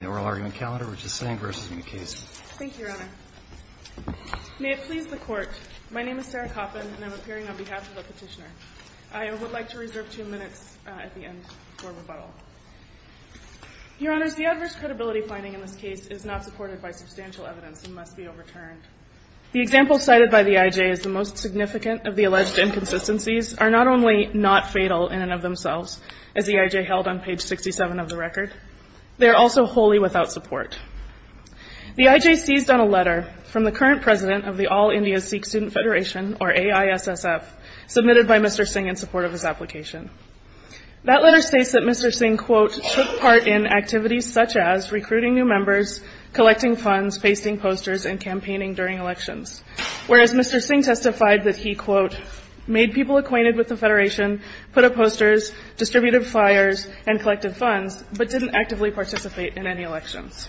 Thank you, Your Honor. May it please the Court, my name is Sarah Coffin and I'm appearing on behalf of the Petitioner. I would like to reserve two minutes at the end for rebuttal. Your Honors, the adverse credibility finding in this case is not supported by substantial evidence and must be overturned. The examples cited by the I.J. as the most significant of the alleged inconsistencies are not only not fatal in and of themselves, as the I.J. held on page 67 of the record, they are also wholly without support. The I.J. seized on a letter from the current President of the All-India Sikh Student Federation, or AISSF, submitted by Mr. Singh in support of his application. That letter states that Mr. Singh, quote, took part in activities such as recruiting new members, collecting funds, pasting posters, and campaigning during elections, whereas Mr. Singh testified that he, quote, made people acquainted with the Federation, put up posters, distributed flyers, and collected funds, but didn't actively participate in any elections.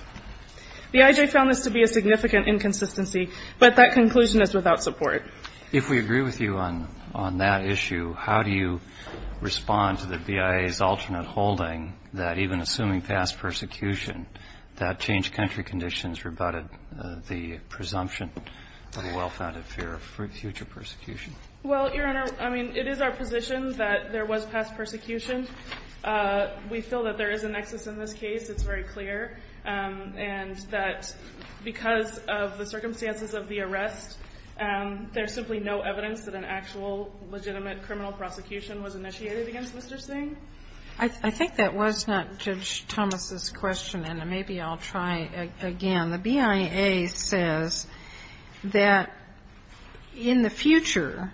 The I.J. found this to be a significant inconsistency, but that conclusion is without support. If we agree with you on that issue, how do you respond to the BIA's alternate holding that even assuming past persecution, that changed country conditions rebutted the presumption of a well-founded fear of future persecution? Well, Your Honor, I mean, it is our position that there was past persecution. We feel that there is a nexus in this case. It's very clear. And that because of the circumstances of the arrest, there's simply no evidence that an actual legitimate criminal prosecution was initiated against Mr. Singh. I think that was not Judge Thomas' question, and maybe I'll try again. The BIA says that in the future,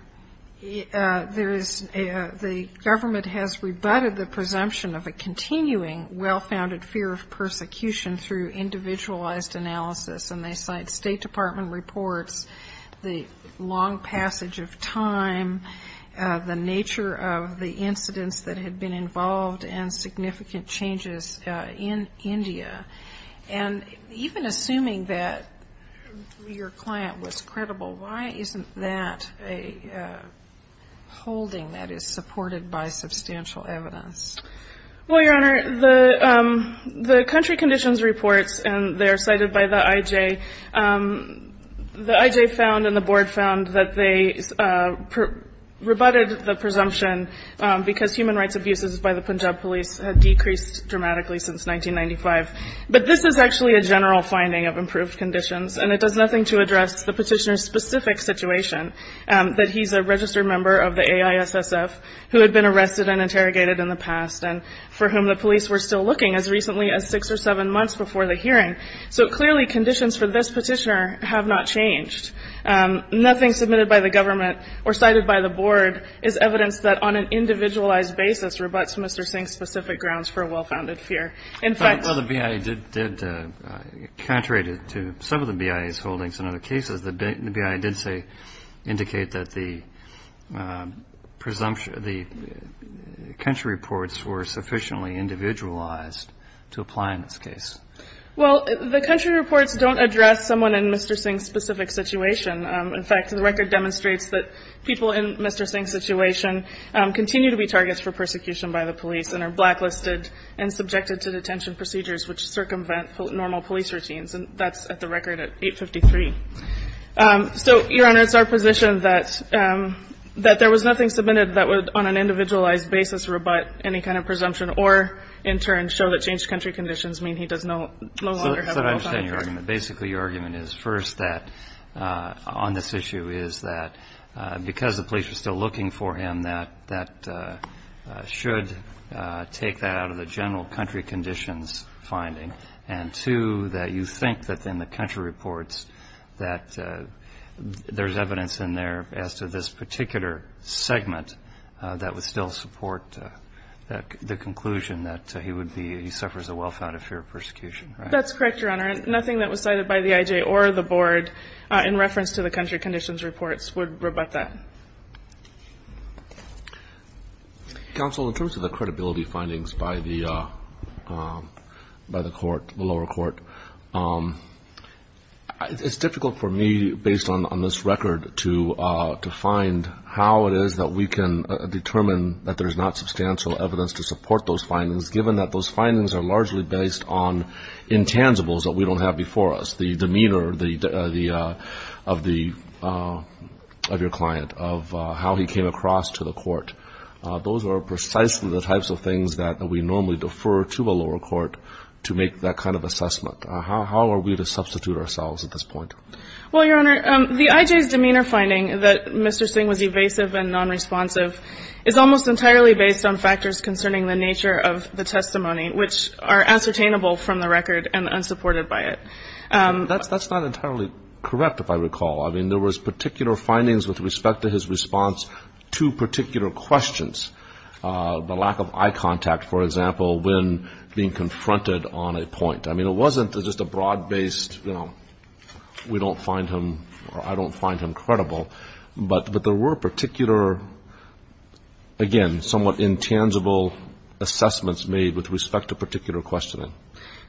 there is a the government has rebutted the presumption of a continuing well-founded fear of persecution through individualized analysis. And they cite State Department reports, the long passage of time, the nature of the incidents that had been involved, and significant changes in India. And even assuming that your client was credible, why isn't that a holding that is supported by substantial evidence? Well, Your Honor, the country conditions reports, and they are cited by the IJ, the IJ found and the board found that they rebutted the presumption because human rights abuses by the Punjab police had decreased dramatically since 1995. But this is actually a general finding of improved conditions. And it does nothing to address the petitioner's specific situation, that he's a registered member of the AISSF who had been arrested and interrogated in the past, and for whom the police were still looking as recently as six or seven months before the hearing. So clearly conditions for this petitioner have not changed. Nothing submitted by the government or cited by the board is evidence that on an individualized basis rebuts Mr. Singh's specific grounds for a well-founded fear. In fact- Well, the BIA did, contrary to some of the BIA's holdings in other cases, the BIA did say, indicate that the presumption, the country reports were sufficiently individualized to apply in this case. Well, the country reports don't address someone in Mr. Singh's specific situation. In fact, the record demonstrates that people in Mr. Singh's situation continue to be targets for persecution by the police and are blacklisted and subjected to detention procedures which circumvent normal police routines. And that's at the record at 853. So, Your Honor, it's our position that there was nothing submitted that would, on an individualized basis, rebut any kind of presumption or, in turn, show that changed country conditions mean he does no longer have a well-founded Basically, your argument is, first, that on this issue is that because the police are still looking for him, that that should take that out of the general country conditions finding, and, two, that you think that in the country reports that there's evidence in there as to this particular segment that would still support the conclusion that he would be, he suffers a well-founded fear of persecution, right? That's correct, Your Honor. Nothing that was cited by the IJ or the board in reference to the country conditions reports would rebut that. Counsel, in terms of the credibility findings by the court, the lower court, it's difficult for me, based on this record, to find how it is that we can determine that there's not substantial evidence to support those findings, because those findings are largely based on intangibles that we don't have before us, the demeanor of your client, of how he came across to the court. Those are precisely the types of things that we normally defer to the lower court to make that kind of assessment. How are we to substitute ourselves at this point? Well, Your Honor, the IJ's demeanor finding that Mr. Singh was evasive and nonresponsive is almost entirely based on factors concerning the nature of the testimony, which are ascertainable from the record and unsupported by it. That's not entirely correct, if I recall. I mean, there was particular findings with respect to his response to particular questions, the lack of eye contact, for example, when being confronted on a point. I mean, it wasn't just a broad-based, you know, we don't find him or I don't find him credible, but there were particular, again, somewhat intangible assessments made with respect to particular questioning.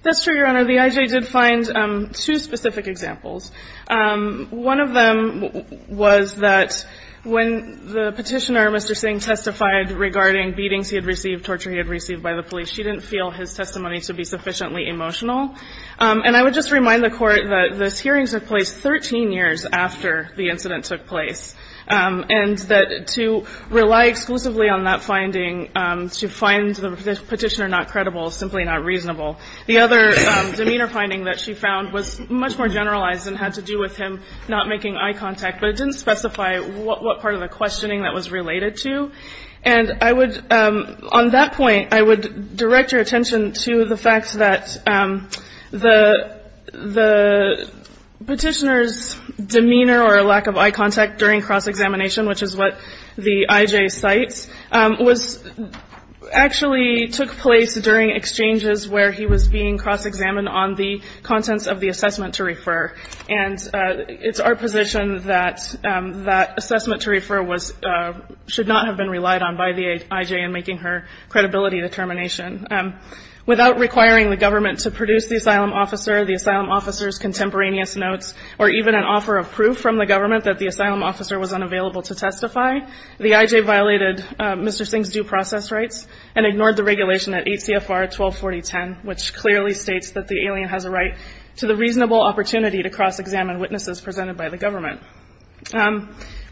That's true, Your Honor. The IJ did find two specific examples. One of them was that when the Petitioner, Mr. Singh, testified regarding beatings he had received, torture he had received by the police, he didn't feel his testimony to be sufficiently emotional. And I would just remind the Court that those hearings took place 13 years after the incident took place. And that to rely exclusively on that finding to find the Petitioner not credible is simply not reasonable. The other demeanor finding that she found was much more generalized and had to do with him not making eye contact, but it didn't specify what part of the questioning that was related to. And I would, on that point, I would direct your attention to the fact that the Petitioner's demeanor or lack of eye contact during cross-examination, which is what the IJ cites, was actually took place during exchanges where he was being cross-examined on the contents of the assessment to refer. And it's our position that that assessment to refer was, should not have been relied on by the IJ in making her credibility determination. Without requiring the government to produce the asylum officer, the asylum officer's asylum officer was unavailable to testify. The IJ violated Mr. Singh's due process rights and ignored the regulation at 8 CFR 124010, which clearly states that the alien has a right to the reasonable opportunity to cross-examine witnesses presented by the government.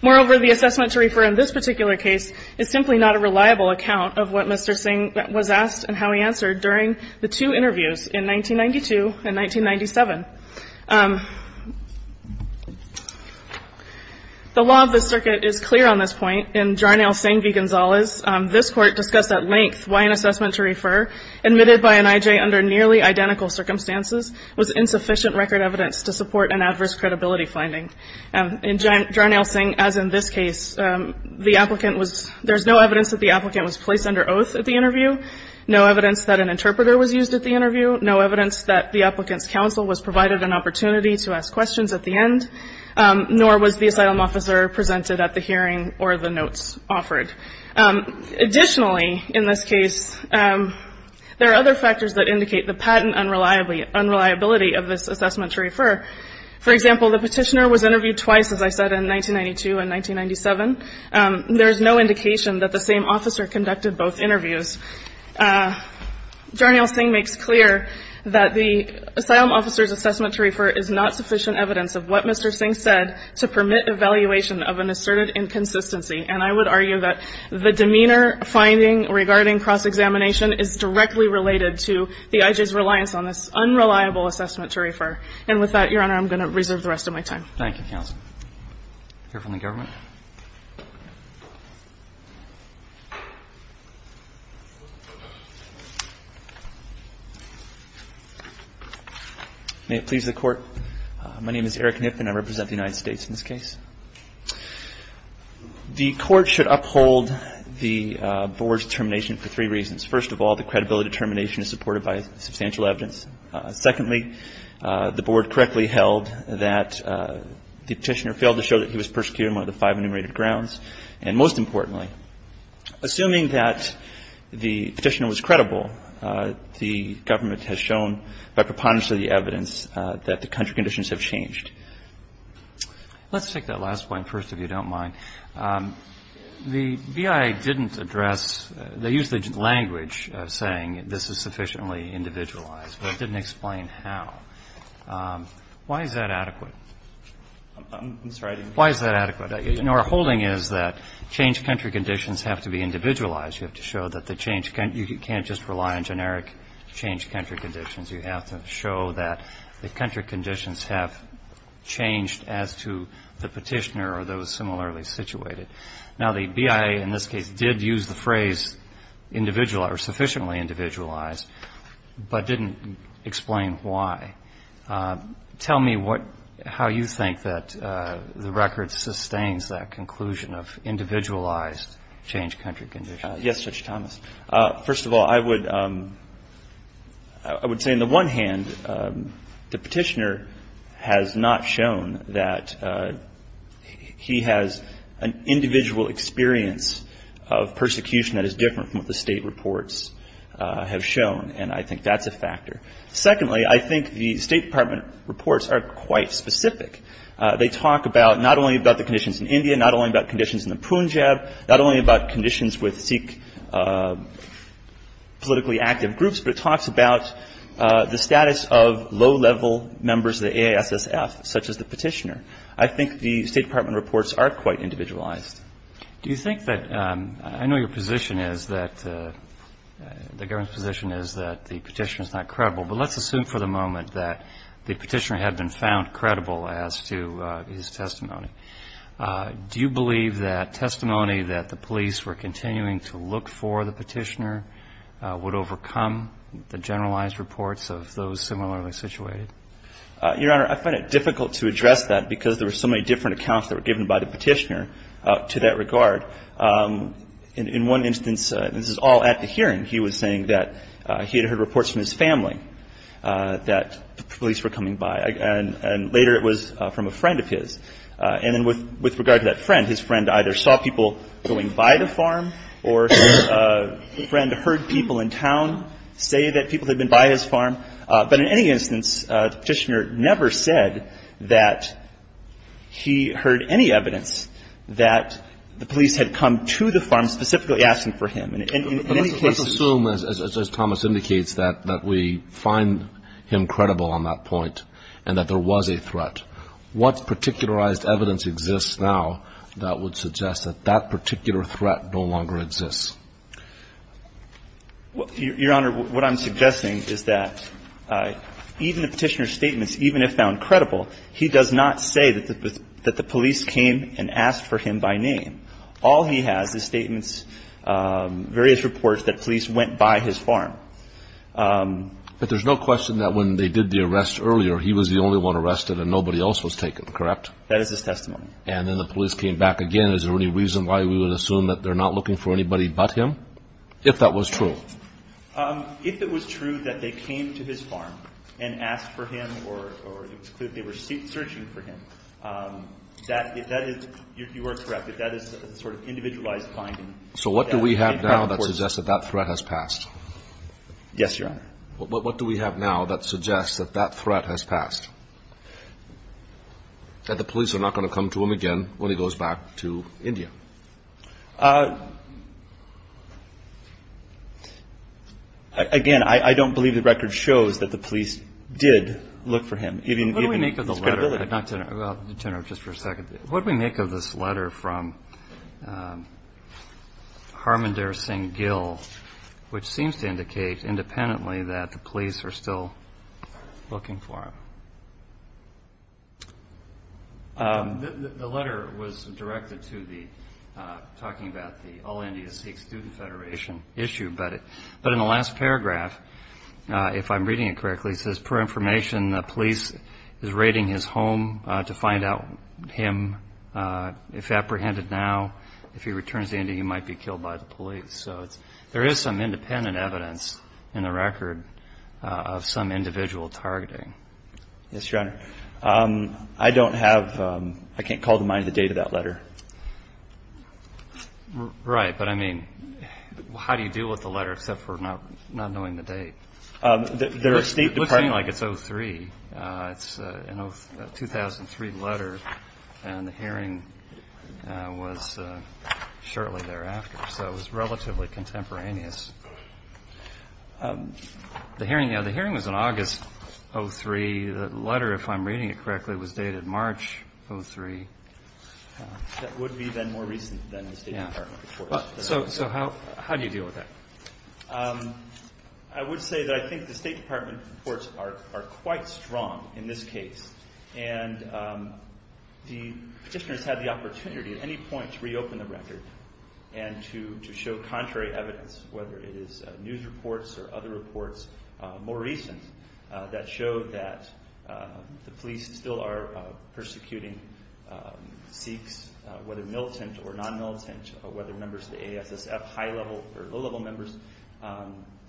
Moreover, the assessment to refer in this particular case is simply not a reliable account of what Mr. Singh was asked and how he answered during the two interviews in 1992 and 1997. The law of the circuit is clear on this point. In Jarnail Singh v. Gonzalez, this Court discussed at length why an assessment to refer admitted by an IJ under nearly identical circumstances was insufficient record evidence to support an adverse credibility finding. In Jarnail Singh, as in this case, the applicant was, there's no evidence that the applicant was placed under oath at the interview, no evidence that an interpreter was used at the interview, provided an opportunity to ask questions at the end, nor was the asylum officer presented at the hearing or the notes offered. Additionally, in this case, there are other factors that indicate the patent unreliability of this assessment to refer. For example, the petitioner was interviewed twice, as I said, in 1992 and 1997. There is no indication that the same officer conducted both interviews. Jarnail Singh makes clear that the asylum officer's assessment to refer is not sufficient evidence of what Mr. Singh said to permit evaluation of an asserted inconsistency. And I would argue that the demeanor finding regarding cross-examination is directly related to the IJ's reliance on this unreliable assessment to refer. And with that, Your Honor, I'm going to reserve the rest of my time. Thank you, counsel. Here from the government. May it please the Court. My name is Eric Knipp, and I represent the United States in this case. The Court should uphold the Board's determination for three reasons. First of all, the credibility determination is supported by substantial evidence. Secondly, the Board correctly held that the petitioner failed to show that he was persecuted on one of the five enumerated grounds. And most importantly, assuming that the petitioner was credible, the government has shown by preponderance of the evidence that the country conditions have changed. Let's take that last point first, if you don't mind. The BIA didn't address the language saying this is sufficiently individualized. But it didn't explain how. Why is that adequate? I'm sorry. Why is that adequate? Our holding is that change country conditions have to be individualized. You have to show that the change can't just rely on generic change country conditions. You have to show that the country conditions have changed as to the petitioner or those similarly situated. Now, the BIA in this case did use the phrase individual or sufficiently individualized, but didn't explain why. Tell me how you think that the record sustains that conclusion of individualized change country conditions. Yes, Judge Thomas. First of all, I would say on the one hand, the petitioner has not shown that he has an individual experience of and I think that's a factor. Secondly, I think the State Department reports are quite specific. They talk about not only about the conditions in India, not only about conditions in the Punjab, not only about conditions with Sikh politically active groups, but it talks about the status of low-level members of the AISSF, such as the petitioner. I think the State Department reports are quite individualized. Do you think that I know your position is that the government's position is that the petitioner is not credible, but let's assume for the moment that the petitioner had been found credible as to his testimony. Do you believe that testimony that the police were continuing to look for the petitioner would overcome the generalized reports of those similarly situated? Your Honor, I find it difficult to address that because there were so many different accounts that were given by the petitioner to that regard. In one instance, this is all at the hearing, he was saying that he had heard reports from his family that police were coming by. And later it was from a friend of his. And then with regard to that friend, his friend either saw people going by the farm or his friend heard people in town say that people had been by his farm. But in any instance, the petitioner never said that he heard any evidence that the police had come to the farm specifically asking for him. But let's assume, as Thomas indicates, that we find him credible on that point and that there was a threat. What particularized evidence exists now that would suggest that that particular threat no longer exists? Your Honor, what I'm suggesting is that even the petitioner's statements, even if found credible, he does not say that the police came and asked for him by name. All he has is statements, various reports that police went by his farm. But there's no question that when they did the arrest earlier, he was the only one arrested and nobody else was taken, correct? That is his testimony. And then the police came back again. Is there any reason why we would assume that they're not looking for anybody but him, if that was true? If it was true that they came to his farm and asked for him or it was clear they were searching for him, that is, you are correct, that is a sort of individualized finding. So what do we have now that suggests that that threat has passed? Yes, Your Honor. What do we have now that suggests that that threat has passed? That the police are not going to come to him again when he goes back to India. Again, I don't believe the record shows that the police did look for him, given his credibility. What do we make of the letter? I'd like to turn it over just for a second. What do we make of this letter from Harmandir Singh Gill, which seems to indicate independently that the police are still looking for him? The letter was directed to the, talking about the All India Sikh Student Federation issue, but in the last paragraph, if I'm reading it correctly, it says, per information, the police is raiding his home to find out him. If apprehended now, if he returns to India, he might be killed by the police. So there is some independent evidence in the record of some individual targeting. Yes, Your Honor. I don't have, I can't call to mind the date of that letter. Right. But I mean, how do you deal with the letter, except for not knowing the date? It looks like it's 2003. It's a 2003 letter, and the hearing was shortly thereafter. So it was relatively contemporaneous. The hearing, you know, the hearing was in August of 2003. The letter, if I'm reading it correctly, was dated March of 2003. That would be then more recent than the State Department reports. Yeah. So how do you deal with that? I would say that I think the State Department reports are quite strong in this case, and the Petitioner's had the opportunity at any point to reopen the record and to show contrary evidence, whether it is news reports or other reports, more recent, that showed that the police still are persecuting Sikhs, whether militant or non-militant, whether members of the ASSF, high-level or low-level members. The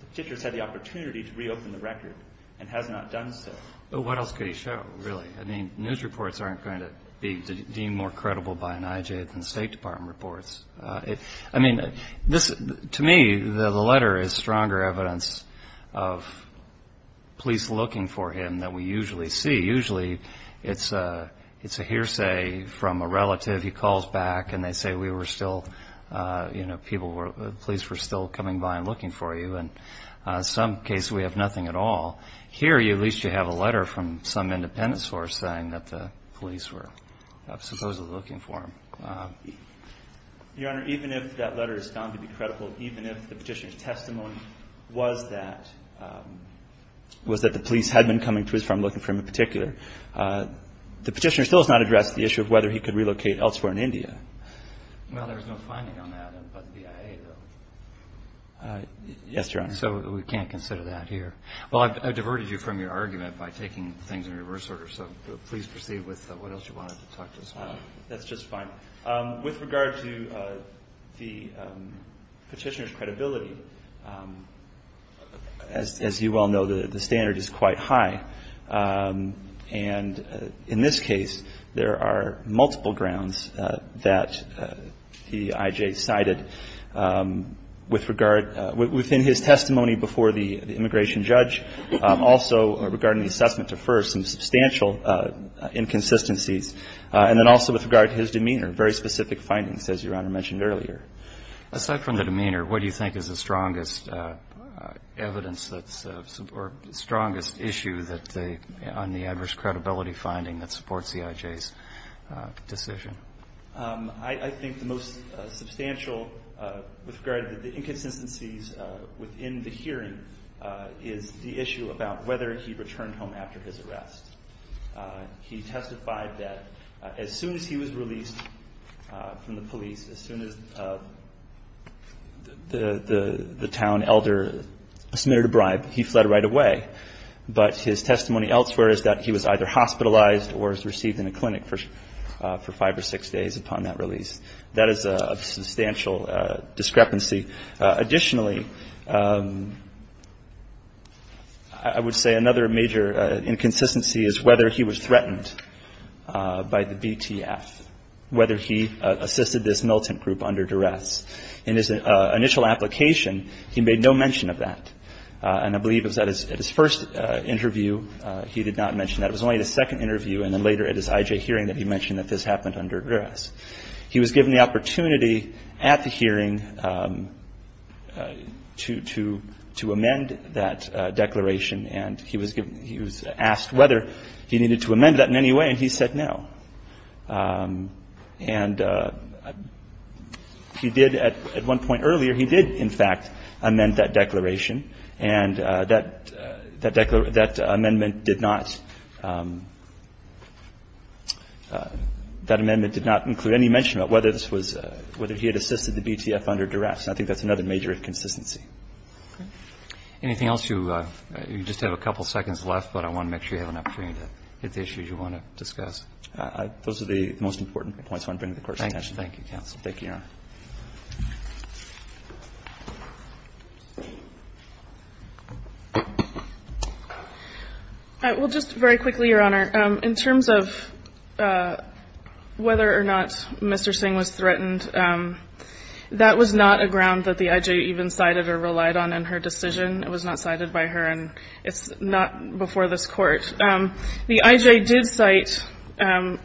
Petitioner's had the opportunity to reopen the record and has not done so. But what else could he show, really? I mean, news reports aren't going to be deemed more credible by an IJ than State Department reports. I mean, to me, the letter is stronger evidence of police looking for him than we usually see. Usually it's a hearsay from a relative. He calls back, and they say, you know, police were still coming by and looking for you, and in some cases we have nothing at all. Here, at least you have a letter from some independence force saying that the police were supposedly looking for him. Your Honor, even if that letter is found to be credible, even if the Petitioner's testimony was that the police had been coming to his farm looking for him in particular, the Petitioner still has not addressed the issue of whether he could relocate elsewhere in India. Well, there was no finding on that by the BIA, though. Yes, Your Honor. And so we can't consider that here. Well, I've diverted you from your argument by taking things in reverse order, so please proceed with what else you wanted to talk to us about. That's just fine. With regard to the Petitioner's credibility, as you well know, the standard is quite high. And in this case, there are multiple grounds that the IJ cited. Within his testimony before the immigration judge, also regarding the assessment to FIRST, some substantial inconsistencies, and then also with regard to his demeanor, very specific findings, as Your Honor mentioned earlier. Aside from the demeanor, what do you think is the strongest evidence or strongest issue on the adverse credibility finding that supports the IJ's decision? I think the most substantial with regard to the inconsistencies within the hearing is the issue about whether he returned home after his arrest. He testified that as soon as he was released from the police, as soon as the town elder submitted a bribe, he fled right away. But his testimony elsewhere is that he was either hospitalized or was received in a clinic for five or six weeks. And he was released within six days upon that release. That is a substantial discrepancy. Additionally, I would say another major inconsistency is whether he was threatened by the BTF, whether he assisted this militant group under duress. In his initial application, he made no mention of that. And I believe it was at his first interview he did not mention that. It was only at his second interview and then later at his IJ hearing that he mentioned that this happened under duress. He was given the opportunity at the hearing to amend that declaration, and he was asked whether he needed to amend that in any way. And he said no. And he did at one point earlier, he did, in fact, amend that declaration. And that amendment did not include any mention of whether this was he had assisted the BTF under duress. And I think that's another major inconsistency. Anything else? You just have a couple seconds left, but I want to make sure you have an opportunity to hit the issues you want to discuss. Those are the most important points I want to bring to the Court's attention. Thank you, counsel. Thank you, Your Honor. Well, just very quickly, Your Honor, in terms of whether or not Mr. Singh was threatened, it was not cited by her, and it's not before this Court. The IJ did cite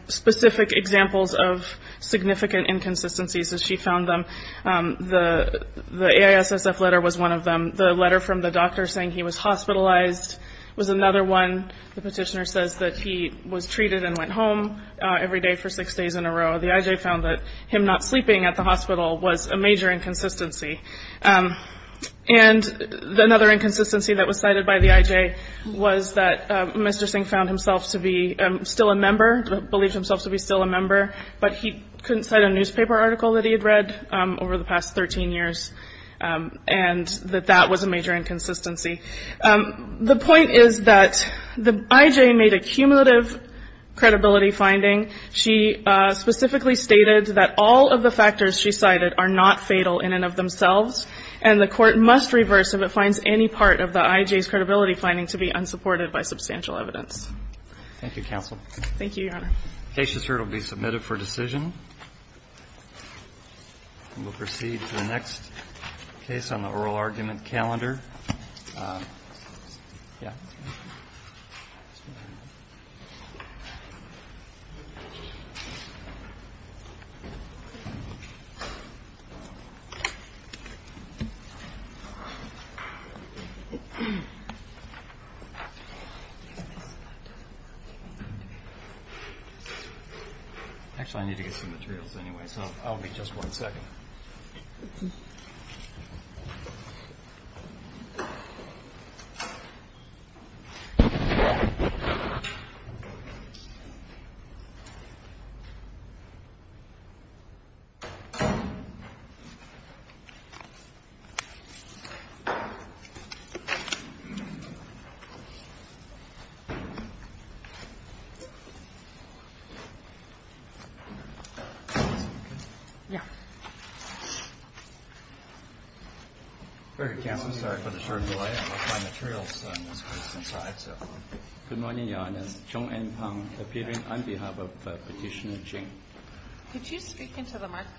specific examples of significant inconsistencies as she found them. The AISSF letter was one of them. The letter from the doctor saying he was hospitalized was another one. The petitioner says that he was treated and went home every day for six days in a row. The IJ found that him not sleeping at the hospital was a major inconsistency. And another inconsistency that was cited by the IJ was that Mr. Singh found himself to be still a member, believed himself to be still a member, but he couldn't cite a newspaper article that he had read over the past 13 years, and that that was a major inconsistency. The point is that the IJ made a cumulative credibility finding. She specifically stated that all of the factors she cited are not fatal in and of themselves, and the Court must reverse if it finds any part of the IJ's credibility finding to be unsupported by substantial evidence. Thank you, counsel. Thank you, Your Honor. The case is here to be submitted for decision. We'll proceed to the next case on the oral argument calendar. Yeah. Actually, I need to get some materials anyway, so I'll be just one second. Yeah. Sorry for the short delay. Good morning, Your Honor. Could you speak into the microphone?